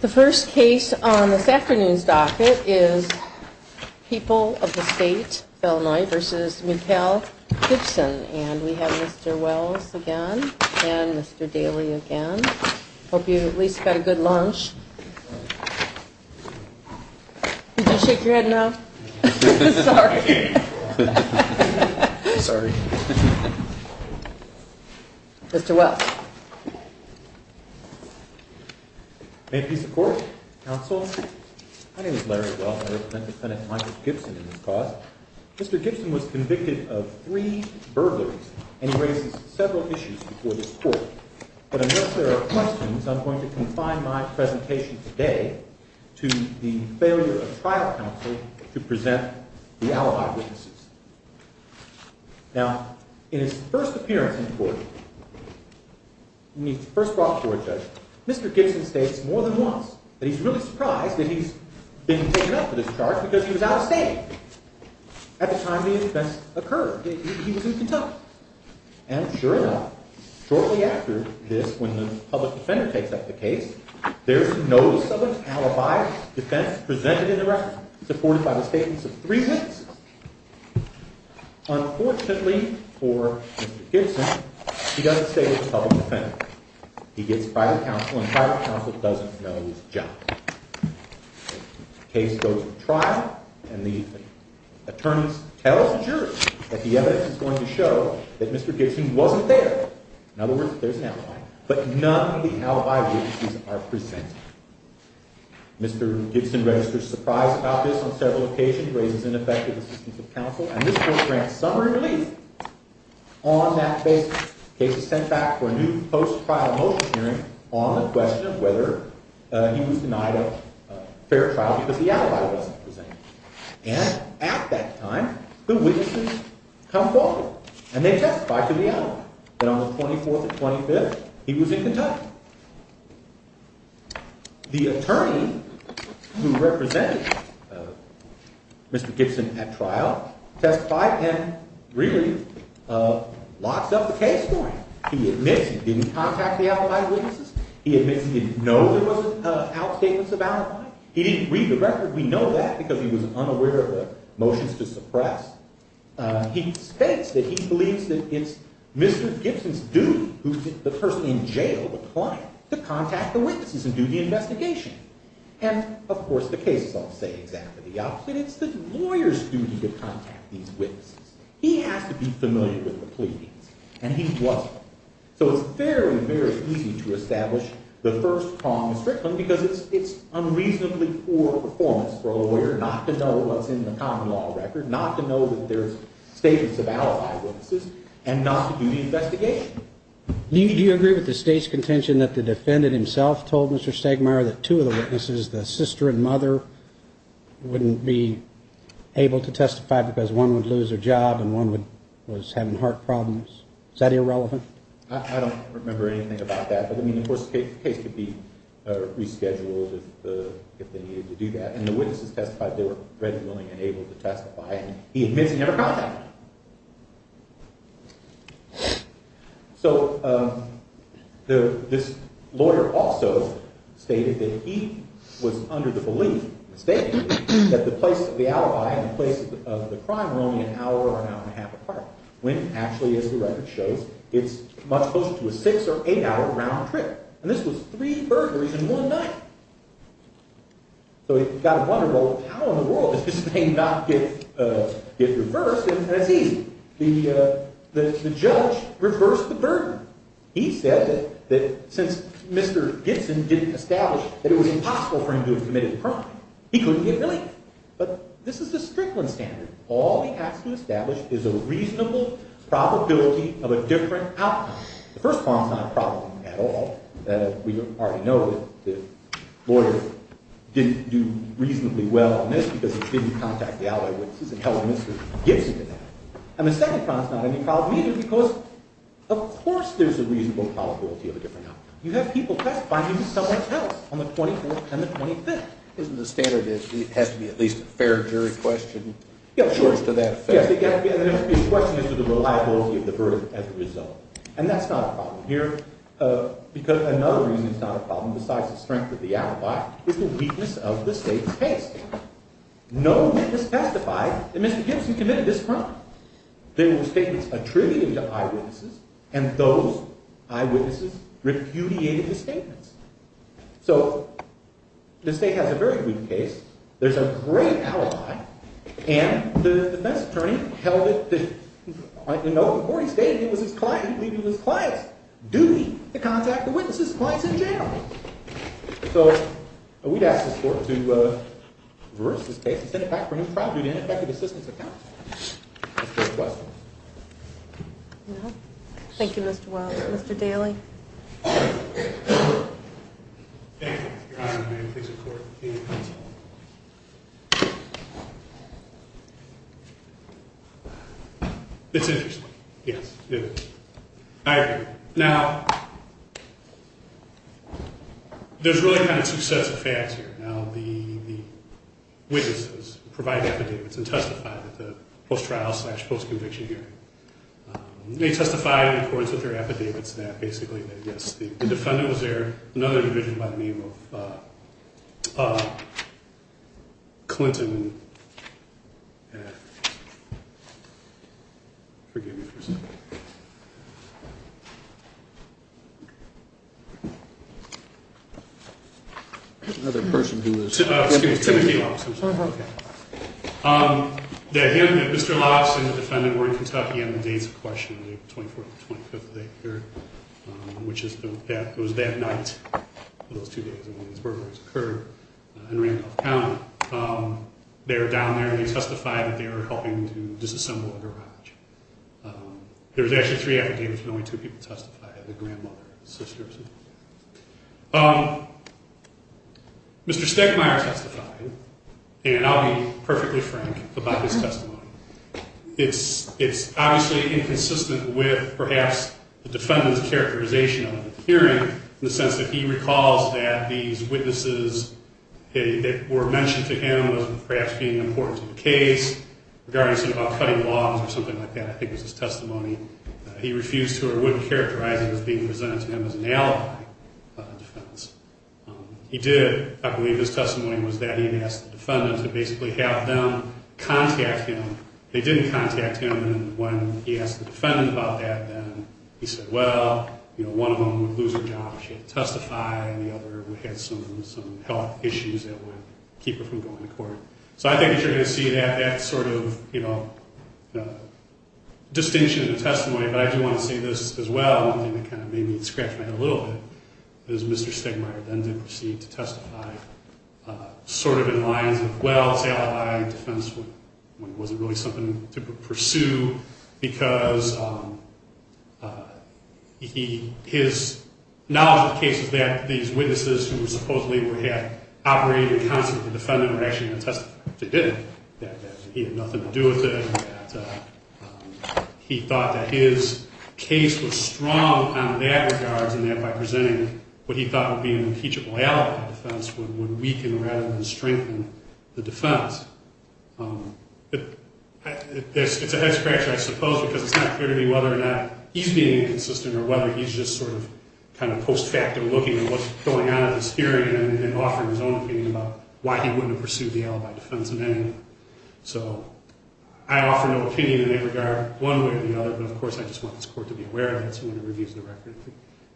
The first case on this afternoon's docket is people of the state of Illinois versus Mikkel Gibson. And we have Mr. Wells again and Mr. Daly again. Hope you at least got a good lunch. Did you shake your head no? Sorry. Sorry. Mr. Wells. May peace of court, counsel. My name is Larry Wells and I represent defendant Michael Gibson in this cause. Mr. Gibson was convicted of three burglaries and he raises several issues before this court. But unless there are questions, I'm going to confine my presentation today to the failure of trial counsel to present the alibi. Now, in his first appearance in court, when he first brought before a judge, Mr. Gibson states more than once that he's really surprised that he's been taken up for this charge because he was out of state at the time the offense occurred. He was in Kentucky. And sure enough, shortly after this, when the public defender takes up the case, there's notice of an alibi defense presented in the record supported by the statements of three witnesses. Unfortunately for Mr. Gibson, he doesn't stay with the public defender. He gets private counsel and private counsel doesn't know his job. The case goes to trial and the attorneys tell the jury that the evidence is going to show that Mr. Gibson wasn't there. In other words, there's an alibi. But none of the alibi witnesses are presented. Mr. Gibson registers surprise about this on several occasions, raises ineffective assistance of counsel, and this court grants summary relief on that basis. The case is sent back for a new post-trial motion hearing on the question of whether he was denied a fair trial because the alibi wasn't presented. And at that time, the witnesses come forward and they testify to the alibi that on the 24th and 25th, he was in Kentucky. The attorney who represented Mr. Gibson at trial testified and really locks up the case for him. He admits he didn't contact the alibi witnesses. He admits he didn't know there was an outstatement of alibi. He didn't read the record. We know that because he was unaware of the motions to suppress. He states that he believes that it's Mr. Gibson's duty, the person in jail, the client, to contact the witnesses and do the investigation. And, of course, the cases all say exactly the opposite. It's the lawyer's duty to contact these witnesses. He has to be familiar with the pleadings, and he wasn't. So it's very, very easy to establish the first prong of strictness because it's unreasonably poor performance for a lawyer not to know what's in the common law record, to know that there's statements of alibi witnesses, and not to do the investigation. Do you agree with the State's contention that the defendant himself told Mr. Stegmaier that two of the witnesses, the sister and mother, wouldn't be able to testify because one would lose their job and one was having heart problems? Is that irrelevant? I don't remember anything about that. But, I mean, of course, the case could be rescheduled if they needed to do that. And the witnesses testified they were ready, willing, and able to testify, and he admits he never contacted them. So this lawyer also stated that he was under the belief, mistakenly, that the place of the alibi and the place of the crime were only an hour or an hour and a half apart. When, actually, as the record shows, it's much closer to a six or eight hour round trip. And this was three burglaries in one night. So you've got to wonder, well, how in the world did this thing not get reversed? And it's easy. The judge reversed the burden. He said that since Mr. Gibson didn't establish that it was impossible for him to have committed the crime, he couldn't get released. But this is the Strickland standard. All he has to establish is a reasonable probability of a different outcome. The first problem's not a problem at all. We already know that the lawyer didn't do reasonably well on this because he didn't contact the alibi witnesses and held Mr. Gibson to that. And the second problem's not any problem either because, of course, there's a reasonable probability of a different outcome. You have people testifying against someone else on the 24th and the 25th. Isn't the standard that it has to be at least a fair jury question? Yeah, there has to be a question as to the reliability of the burden as a result. And that's not a problem here because another reason it's not a problem, besides the strength of the alibi, is the weakness of the state's case. No witness testified that Mr. Gibson committed this crime. There were statements attributed to eyewitnesses, and those eyewitnesses repudiated his statements. So, the state has a very good case. There's a great alibi. And the defense attorney held it, you know, before he stated it was his client, he believed it was his client's duty to contact the witness's clients in jail. So, we'd ask the court to reverse this case and send it back for a new trial due to ineffective assistance of counsel. Mr. Westman. Thank you, Mr. Wells. Mr. Daly. Thank you. Your Honor, may I please report the case? It's interesting. Yes, it is. I agree. Now, there's really kind of two sets of facts here. Now, the witnesses provided affidavits and testified at the post-trial slash post-conviction hearing. They testified in accordance with their affidavits that basically, yes, the defendant was there, another individual by the name of Clinton. Forgive me for a second. Another person who was… I'm sorry about that. That Mr. Lopson, the defendant, were in Kentucky on the dates of questioning, April 24th and 25th of that year, which was that night of those two days when these burglaries occurred in Randolph County. They were down there and they testified that they were helping to disassemble a garage. There was actually three affidavits and only two people testified, the grandmother, the sisters. Mr. Stechmeyer testified, and I'll be perfectly frank about his testimony. It's obviously inconsistent with perhaps the defendant's characterization of the hearing in the sense that he recalls that these witnesses that were mentioned to him as perhaps being important to the case, regarding something about cutting logs or something like that, I think was his testimony. He refused to or wouldn't characterize it as being presented to him as an alibi by the defendants. He did, I believe his testimony was that he had asked the defendant to basically have them contact him. They didn't contact him, and when he asked the defendant about that, he said, well, one of them would lose her job if she didn't testify, and the other would have some health issues that would keep her from going to court. So I think that you're going to see that sort of, you know, distinction in the testimony, but I do want to say this as well, and it kind of made me scratch my head a little bit, is Mr. Stechmeyer then did proceed to testify sort of in lines of, well, it's an alibi in defense, when it wasn't really something to pursue because his knowledge of the case is that these witnesses who supposedly were half-operating accounts of the defendant were actually going to testify, but they didn't, that he had nothing to do with it, and that he thought that his case was strong on that regard, and that by presenting what he thought would be an impeachable alibi in defense would weaken rather than strengthen the defense. It's a head scratch, I suppose, because it's not clear to me whether or not he's being inconsistent or whether he's just sort of kind of post-facto looking at what's going on in this hearing and offering his own opinion about why he wouldn't have pursued the alibi defense in any way. So I offer no opinion in any regard one way or the other, but of course I just want this Court to be aware of it so when it reviews the record,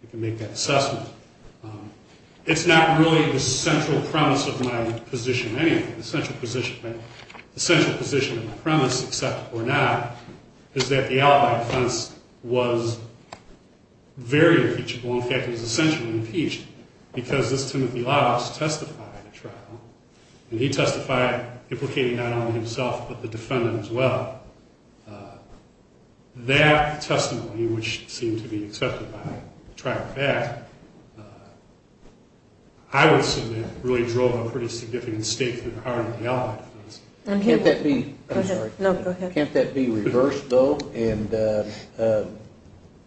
it can make that assessment. It's not really the central premise of my position in any way, the central position of the premise, except for not, is that the alibi defense was very impeachable, in fact, it was essentially impeached, because this Timothy Ladoffs testified at trial, and he testified implicating not only himself but the defendant as well. That testimony, which seemed to be accepted by the trial fact, I would submit really drove a pretty significant stake through the heart of the alibi defense. Can't that be reversed, though?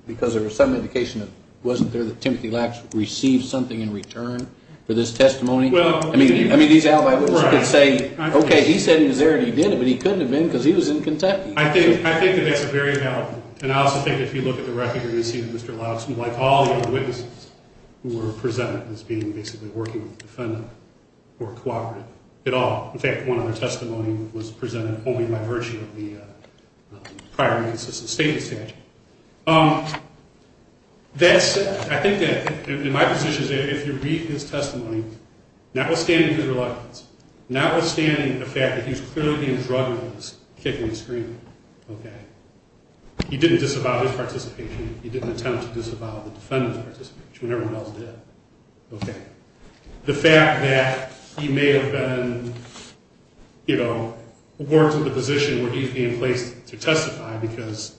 Because there was some indication that it wasn't there, that Timothy Ladoffs received something in return for this testimony? I mean, these alibi witnesses could say, okay, he said he was there and he did it, but he couldn't have been because he was in Kentucky. I think that that's a very valid point. And I also think that if you look at the record, you'll see that Mr. Ladoffs, like all the other witnesses who were presented as being basically working with the defendant or cooperative at all, in fact, one of their testimony was presented only by virtue of the prior inconsistent statement statute. That said, I think that in my position, if you read his testimony, notwithstanding his reluctance, notwithstanding the fact that he was clearly being drugged, kicking and screaming, okay, he didn't disavow his participation, he didn't attempt to disavow the defendant's participation, which, when everyone else did, okay. The fact that he may have been, you know, worked in a position where he's being placed to testify because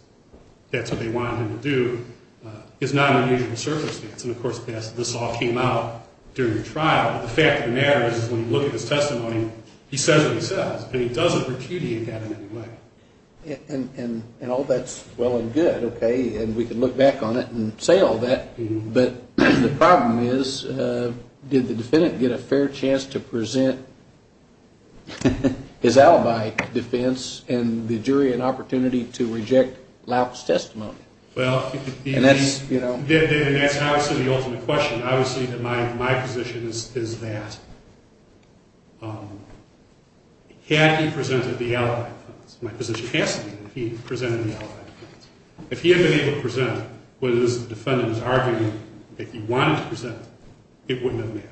that's what they wanted him to do is not an unusual circumstance. And, of course, this all came out during the trial. But the fact of the matter is when you look at his testimony, he says what he says, but he doesn't repudiate that in any way. And all that's well and good, okay, and we can look back on it and say all that, but the problem is did the defendant get a fair chance to present his alibi defense and the jury an opportunity to reject Laup's testimony? And that's obviously the ultimate question. Obviously my position is that had he presented the alibi defense, my position has to be that he presented the alibi defense. If he had been able to present what is the defendant's argument that he wanted to present, it wouldn't have mattered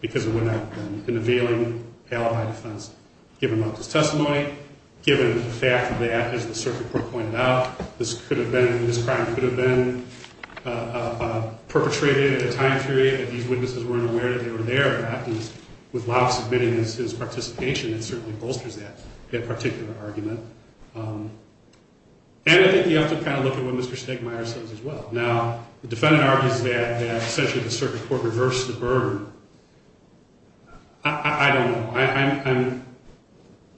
because it would not have been an availing alibi defense. Given Laup's testimony, given the fact that, as the circuit court pointed out, this could have been, this crime could have been perpetrated at a time period that these witnesses weren't aware that they were there. In fact, with Laup submitting his participation, it certainly bolsters that particular argument. And I think you have to kind of look at what Mr. Stegmaier says as well. Now, the defendant argues that essentially the circuit court reversed the burden. I don't know.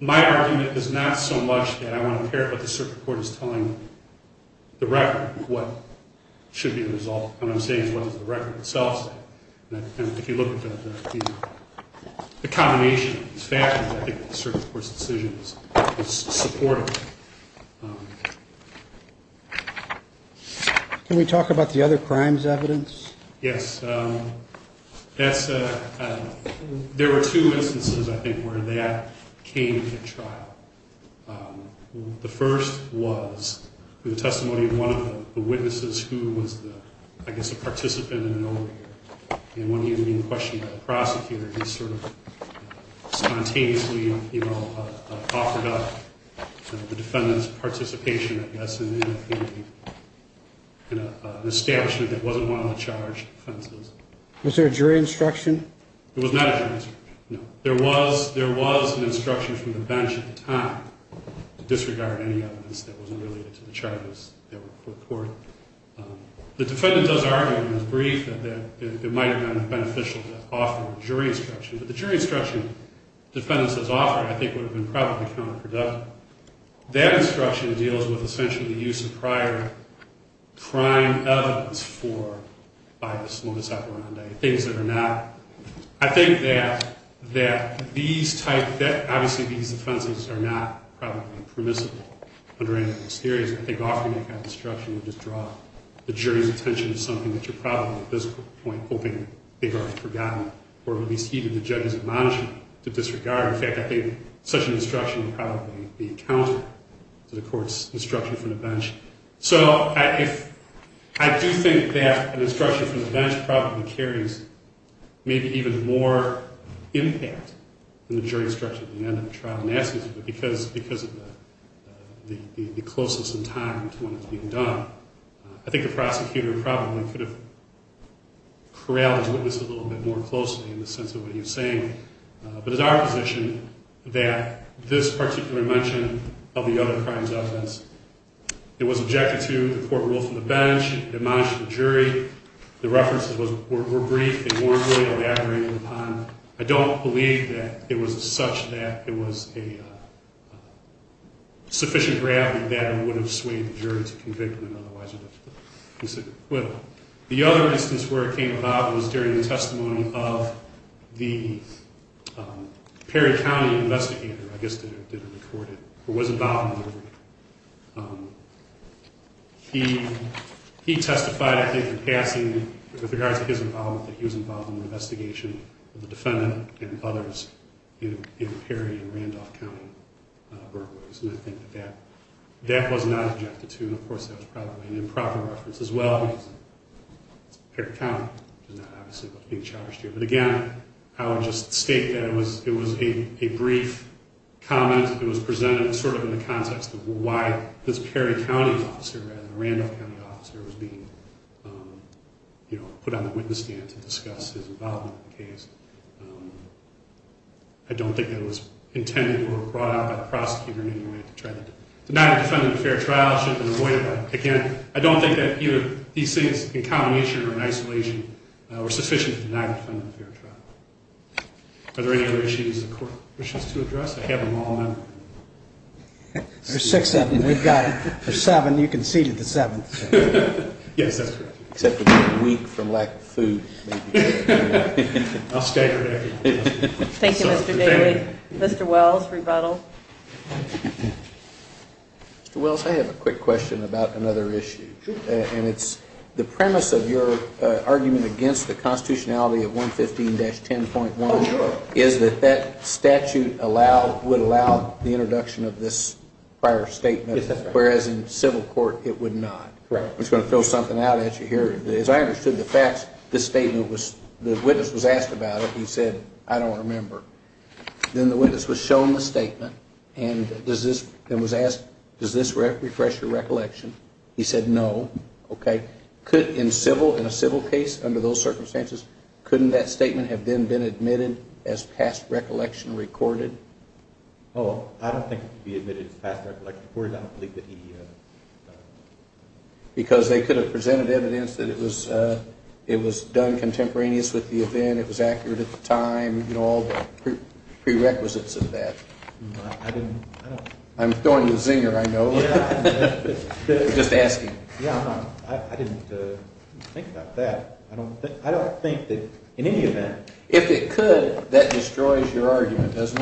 My argument is not so much that I want to hear what the circuit court is telling the record of what should be the result. What I'm saying is what does the record itself say? And if you look at the combination of these factors, I think the circuit court's decision is supportive. Can we talk about the other crimes evidence? Yes. There were two instances, I think, where that came to trial. The first was the testimony of one of the witnesses who was the, I guess, a participant in an overhear. And when he was being questioned by the prosecutor, he sort of spontaneously, you know, offered up the defendant's participation, I guess, in an establishment that wasn't one of the charged offenses. Was there a jury instruction? There was not a jury instruction, no. There was an instruction from the bench at the time to disregard any evidence that wasn't related to the charges that were before the court. The defendant does argue in his brief that it might have been beneficial to offer a jury instruction. But the jury instruction the defendant has offered, I think, would have been probably counterproductive. That instruction deals with, essentially, the use of prior crime evidence for bias, modus operandi, things that are not. I think that these type, that obviously these offenses are not probably permissible under any of these theories. I think offering that kind of instruction would just draw the jury's attention to something that you're probably, at this point, hoping they've already forgotten or at least heeded the judge's admonition to disregard. In fact, I think such an instruction would probably be counter to the court's instruction from the bench. So I do think that an instruction from the bench probably carries maybe even more impact than the jury instruction at the end of the trial and that's because of the closeness in time to when it's being done. I think the prosecutor probably could have corralled his witness a little bit more closely in the sense of what he was saying. But it's our position that this particular mention of the other crimes offense, it was objected to, the court ruled from the bench, it admonished the jury, the references were brief, they warmly elaborated upon. I don't believe that it was such that it was a sufficient gravity that it would have swayed the jury to convictment, otherwise it would have considered acquittal. The other instance where it came about was during the testimony of the Perry County investigator, I guess it did record it, who was involved in the verdict. He testified, I think, in passing with regards to his involvement, that he was involved in the investigation of the defendant and others in Perry and Randolph County burglaries. And I think that that was not objected to and of course that was probably an improper reference as well. Perry County is not obviously being charged here. But again, I would just state that it was a brief comment, it was presented sort of in the context of why this Perry County officer, or rather the Randolph County officer, was being put on the witness stand to discuss his involvement in the case. I don't think that it was intended or brought out by the prosecutor in any way to try to deny the defendant a fair trial, it should have been avoided. But again, I don't think that either these things, in combination or in isolation, were sufficient to deny the defendant a fair trial. Are there any other issues that the court wishes to address? I have them all. There's six of them, we've got them. There's seven, you conceded the seventh. Yes, that's correct. Except for being weak from lack of food. I'll stay for that. Thank you, Mr. Daly. Mr. Wells, rebuttal. Mr. Wells, I have a quick question about another issue. And it's the premise of your argument against the constitutionality of 115-10.1 is that that statute would allow the defendant the introduction of this prior statement, whereas in civil court it would not. Correct. I'm just going to throw something out at you here. As I understood the facts, the witness was asked about it, he said, I don't remember. Then the witness was shown the statement and was asked, does this refresh your recollection? He said, no. Okay. In a civil case, under those circumstances, couldn't that statement have then been admitted as past recollection recorded? Oh, I don't think it could be admitted as past recollection recorded. I don't believe that he... Because they could have presented evidence that it was done contemporaneous with the event, it was accurate at the time, you know, all the prerequisites of that. I didn't... I'm throwing you a zinger, I know. Just asking. Yeah, I didn't think about that. I don't think that in any event... If it could, that destroys your argument, doesn't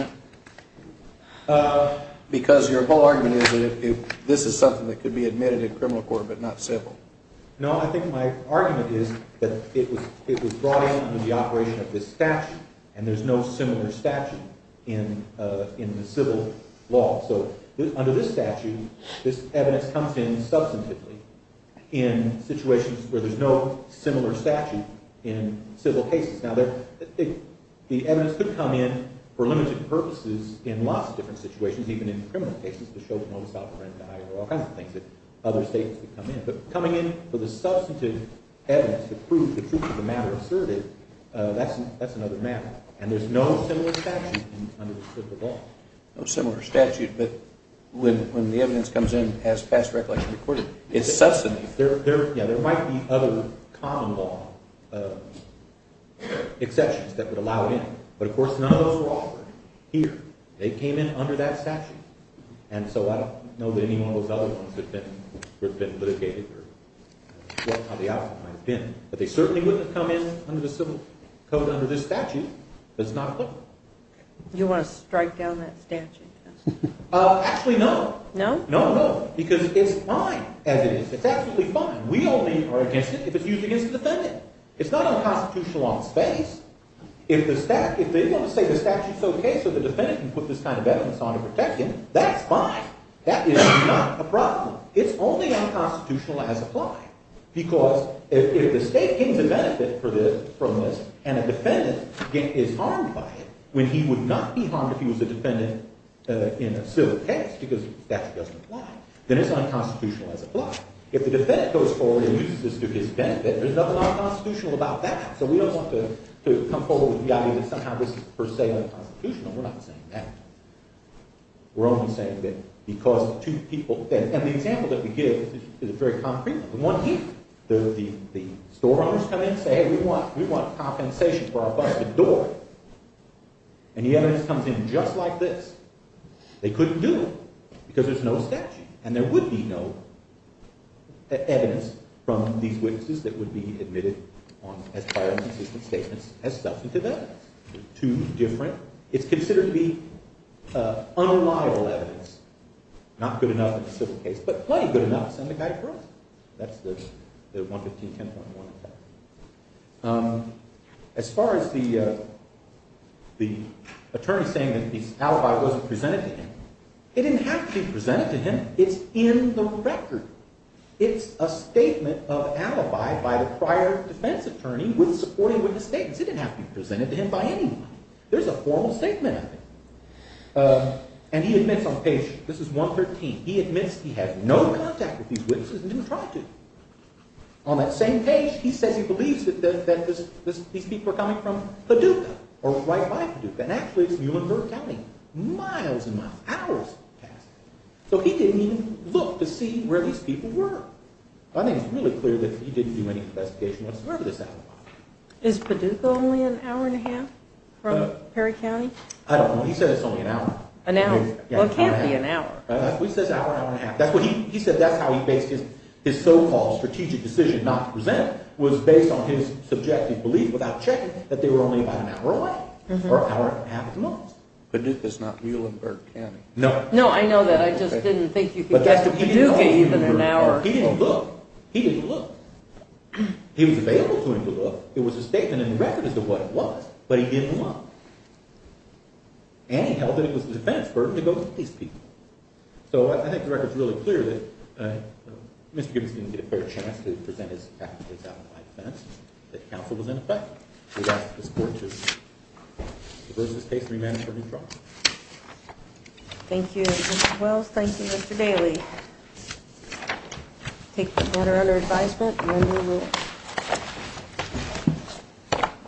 it? Because your whole argument is that if this is something that could be admitted in criminal court but not civil. No, I think my argument is that it was brought in under the operation of this statute and there's no similar statute in the civil law. So under this statute, this evidence comes in substantively in situations where there's no similar statute in civil cases. Now, the evidence could come in for limited purposes in lots of different situations, even in criminal cases to show no sovereignty or all kinds of things that other states could come in. But coming in for the substantive evidence to prove the truth of the matter asserted, that's another matter. And there's no similar statute under the civil law. No similar statute, but when the evidence comes in as past recollection recorded, it's substantive. There might be other common law exceptions that would allow it in. But of course, none of those were offered here. They came in under that statute. And so I don't know that any one of those other ones have been litigated or what the outcome might have been. But they certainly wouldn't have come in under the civil code under this statute if it's not clear. You want to strike down that statute? Actually, no. No? No, no, because it's fine as it is. It's absolutely fine. We only are against it if it's used against a defendant. It's not unconstitutional on the space that if they want to say the statute's okay so the defendant can put this kind of evidence on to protect him, that's fine. That is not a problem. It's only unconstitutional as applied because if the state gains a benefit from this and a defendant is harmed by it when he would not be harmed if he was a defendant in a civil case because the statute doesn't apply, then it's unconstitutional as applied. If the defendant goes forward and uses this to his benefit, there's nothing unconstitutional about that. So we don't want to come forward with the idea that somehow this is per se unconstitutional. We're not saying that. We're only saying that because two people, and the example that we give is a very concrete one. The store owners come in and say, hey, we want compensation for our busted door. And the evidence comes in just like this. They couldn't do it because there's no statute and there would be no evidence from these witnesses that would be admitted if there were inconsistent statements as substantive evidence. They're two different, it's considered to be unremarkable evidence. Not good enough in a civil case, but plenty good enough to send a guy to prison. That's the 115-10.1 effect. As far as the attorney saying that the alibi wasn't presented to him, it didn't have to be presented to him. It's in the record. It's a statement of alibi by the prior defense attorney with the statements. It didn't have to be presented to him by anyone. There's a formal statement of it. And he admits on page, this is 113, he admits he had no contact with these witnesses and didn't try to. On that same page, he says he believes that these people were coming from Paducah or right by Paducah. And actually, it's Newmanburg County, miles and miles, hours past. So he didn't even look to see where these people were. Is Paducah only an hour and a half from Perry County? I don't know. He said it's only an hour. An hour? Well, it can't be an hour. He says hour, hour and a half. He said that's how he based his so-called strategic decision not to present was based on his subjective belief without checking that they were only about an hour away or an hour and a half at the most. Paducah's not Newmanburg County. No, I know that. I just didn't think you could get to Paducah in an hour. He didn't look. He didn't look. He gave them a record as to what it was, but he didn't look. And he held that it was his defense for him to go get these people. So I think the record's really clear that Mr. Gibbons didn't get a fair chance to present his facts based on my defense, that counsel was in effect. We ask for your support to reverse this case and remand it for a new trial. Thank you, Mr. Wells. Thank you, Mr. Daly. I take this matter under advisement and I move the rule. Thank you.